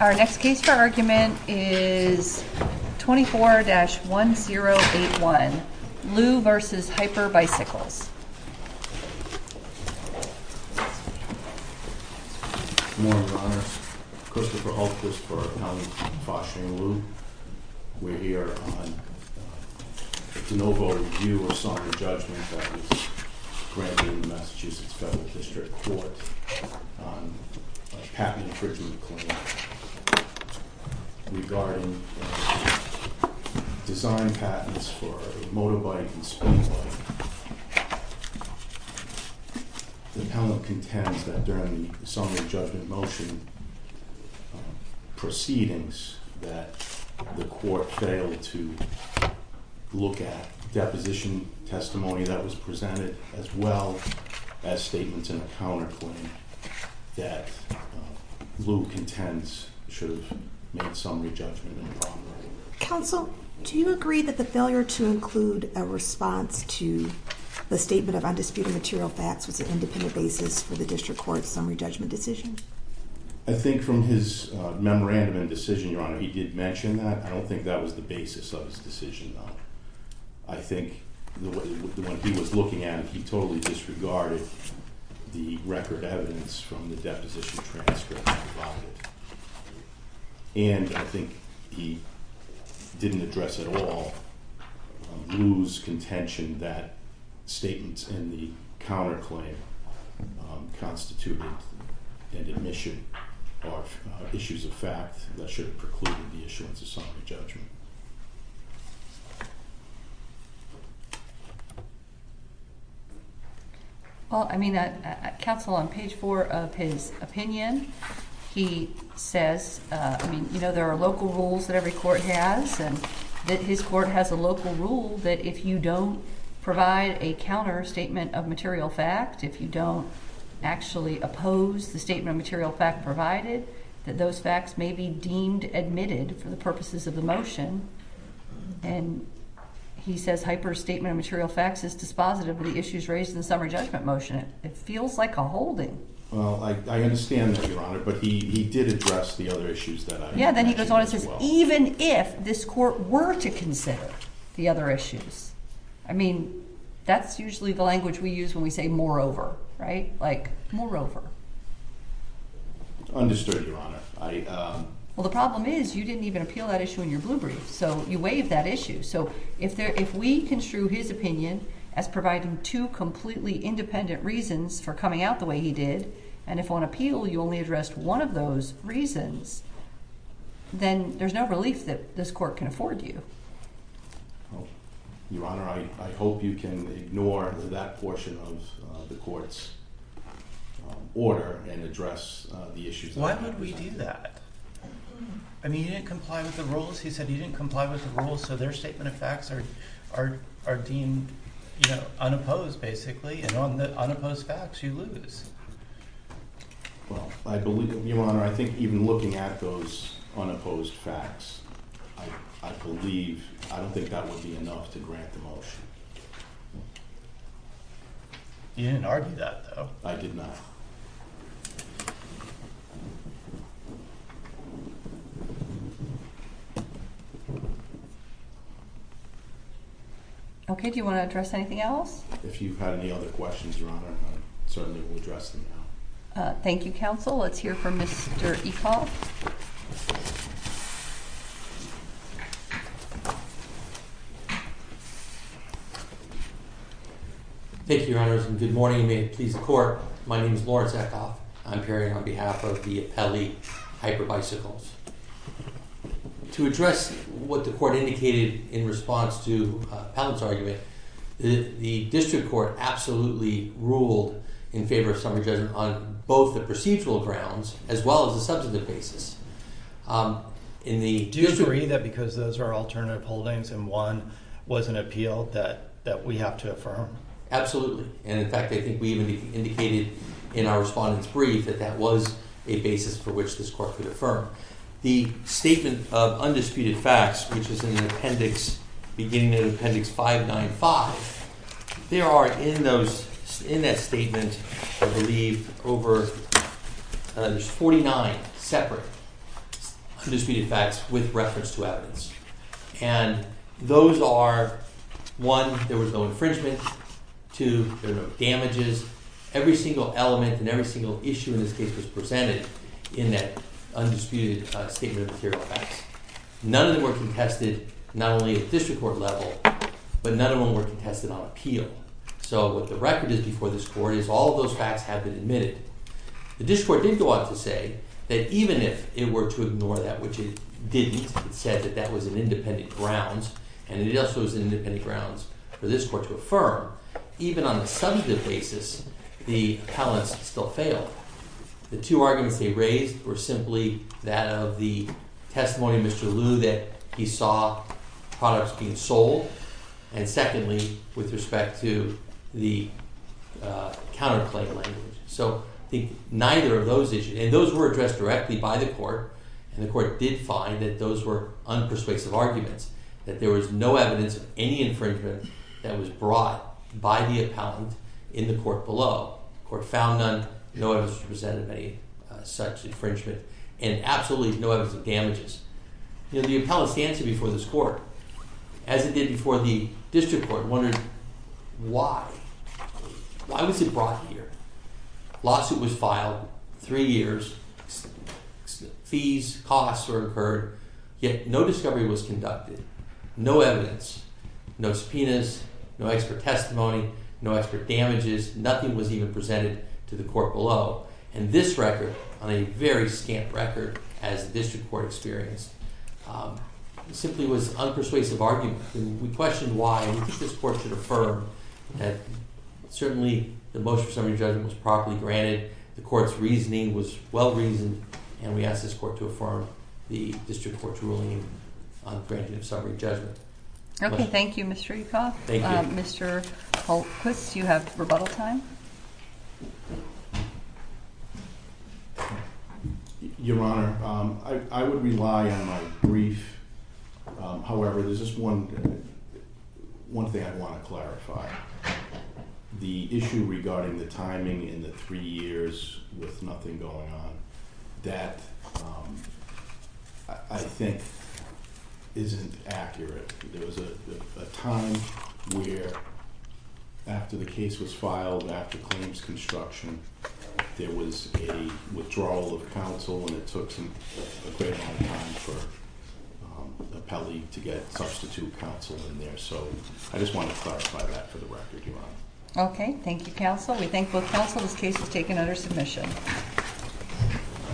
Our next case for argument is 24-1081, Liu v. Hyper Bicycles. Good morning, Your Honors. Christopher Hultquist for Appellant Boston and Liu. We're here on a de novo review of some of the judgments that was granted in the Massachusetts Federal District Court on a patent infringement claim regarding design patents for a motorbike and speedway. The panel contends that during the summary judgment motion proceedings that the court failed to look at deposition testimony that was presented, as well as statements in a counterclaim that Liu contends should have made summary judgment in the wrong way. Counsel, do you agree that the failure to include a response to the statement of undisputed material facts was an independent basis for the district court's summary judgment decision? I think from his memorandum and decision, Your Honor, he did mention that. I don't think that was the basis of his decision, though. I think the way he was looking at it, he totally disregarded the record evidence from the deposition transcripts provided. And I think he didn't address at all Liu's contention that statements in the counterclaim constituted an admission of issues of fact that should have precluded the issuance of summary judgment. Well, I mean, counsel, on page four of his opinion, he says, I mean, you know there are local rules that every court has. And that his court has a local rule that if you don't provide a counter statement of material fact, if you don't actually oppose the statement of material fact provided, that those facts may be deemed admitted for the purposes of the motion. And he says, hyperstatement of material facts is dispositive of the issues raised in the summary judgment motion. It feels like a holding. Well, I understand that, Your Honor. But he did address the other issues that I mentioned as well. Yeah, then he goes on and says, even if this court were to consider the other issues. I mean, that's usually the language we use when we say moreover, right? Like, moreover. Understood, Your Honor. Well, the problem is you didn't even appeal that issue in your blue brief. So you waived that issue. So if we construe his opinion as providing two completely independent reasons for coming out the way he did, and if on appeal you only addressed one of those reasons, then there's no relief that this court can afford you. Your Honor, I hope you can ignore that portion of the court's order and address the issues. Why would we do that? I mean, you didn't comply with the rules. He said you didn't comply with the rules. So their statement of facts are deemed unopposed, basically. And on the unopposed facts, you lose. Well, I believe, Your Honor, I think even looking at those unopposed facts, I believe, I don't think that would be enough to grant the motion. You didn't argue that, though. I did not. Thank you. OK, do you want to address anything else? If you've had any other questions, Your Honor, I certainly will address them now. Thank you, counsel. Let's hear from Mr. Ekoff. Thank you, Your Honors, and good morning. And may it please the court, my name is Lawrence Ekoff. I'm appearing on behalf of the Appellee Hyperbicycles. To address what the court indicated in response to Palin's argument, the district court absolutely ruled in favor of summary judgment on both the procedural grounds as well as the substantive basis. Do you agree that because those are alternative holdings and one was an appeal that we have to affirm? Absolutely. And in fact, I think we even indicated in our respondents brief that that was a basis for which this court could affirm. The statement of undisputed facts, which is beginning in appendix 595, there are in that statement, I believe, over 49 separate undisputed facts with reference to evidence. And those are, one, there was no infringement. Two, there were no damages. Every single element and every single issue in this case was presented in that undisputed statement of material facts. None of them were contested, not only at the district court level, but none of them were contested on appeal. So what the record is before this court is all of those facts have been admitted. The district court did go on to say that even if it were to ignore that, which it didn't, it said that that was an independent grounds, and it also was an independent grounds for this court to affirm, even on a substantive basis, the appellants still failed. The two arguments they raised were simply that of the testimony of Mr. Liu that he saw products being sold, and secondly, with respect to the counterclaim language. So I think neither of those issues, and those were addressed directly by the court, and the court did find that those were unpersuasive arguments, that there was no evidence of any infringement that was brought by the appellant in the court below. The court found none, no evidence to present of any such infringement, and absolutely no evidence of damages. The appellant stands here before this court, as it did before the district court, wondering why. Why was it brought here? Lawsuit was filed, three years, fees, costs were incurred, yet no discovery was conducted, no evidence, no subpoenas, no expert testimony, no expert damages, nothing was even presented to the court below. And this record, on a very scant record, as the district court experienced, simply was unpersuasive argument. We questioned why, and we think this court should affirm that certainly the motion for summary judgment was properly granted, the court's reasoning was well-reasoned, and we ask this court to affirm the district court's ruling on granting of summary judgment. OK, thank you, Mr. Yukoff. Mr. Holquist, you have rebuttal time. Your Honor, I would rely on my brief. However, there's just one thing I want to clarify. The issue regarding the timing in the three years with nothing going on, that I think isn't accurate. There was a time where, after the case was filed, after claims construction, there was a withdrawal of counsel, and it took a great amount of time for an appellee to get substitute counsel in there. So I just want to clarify that for the record, Your Honor. OK, thank you, counsel. We thank both counsel. This case is taken under submission.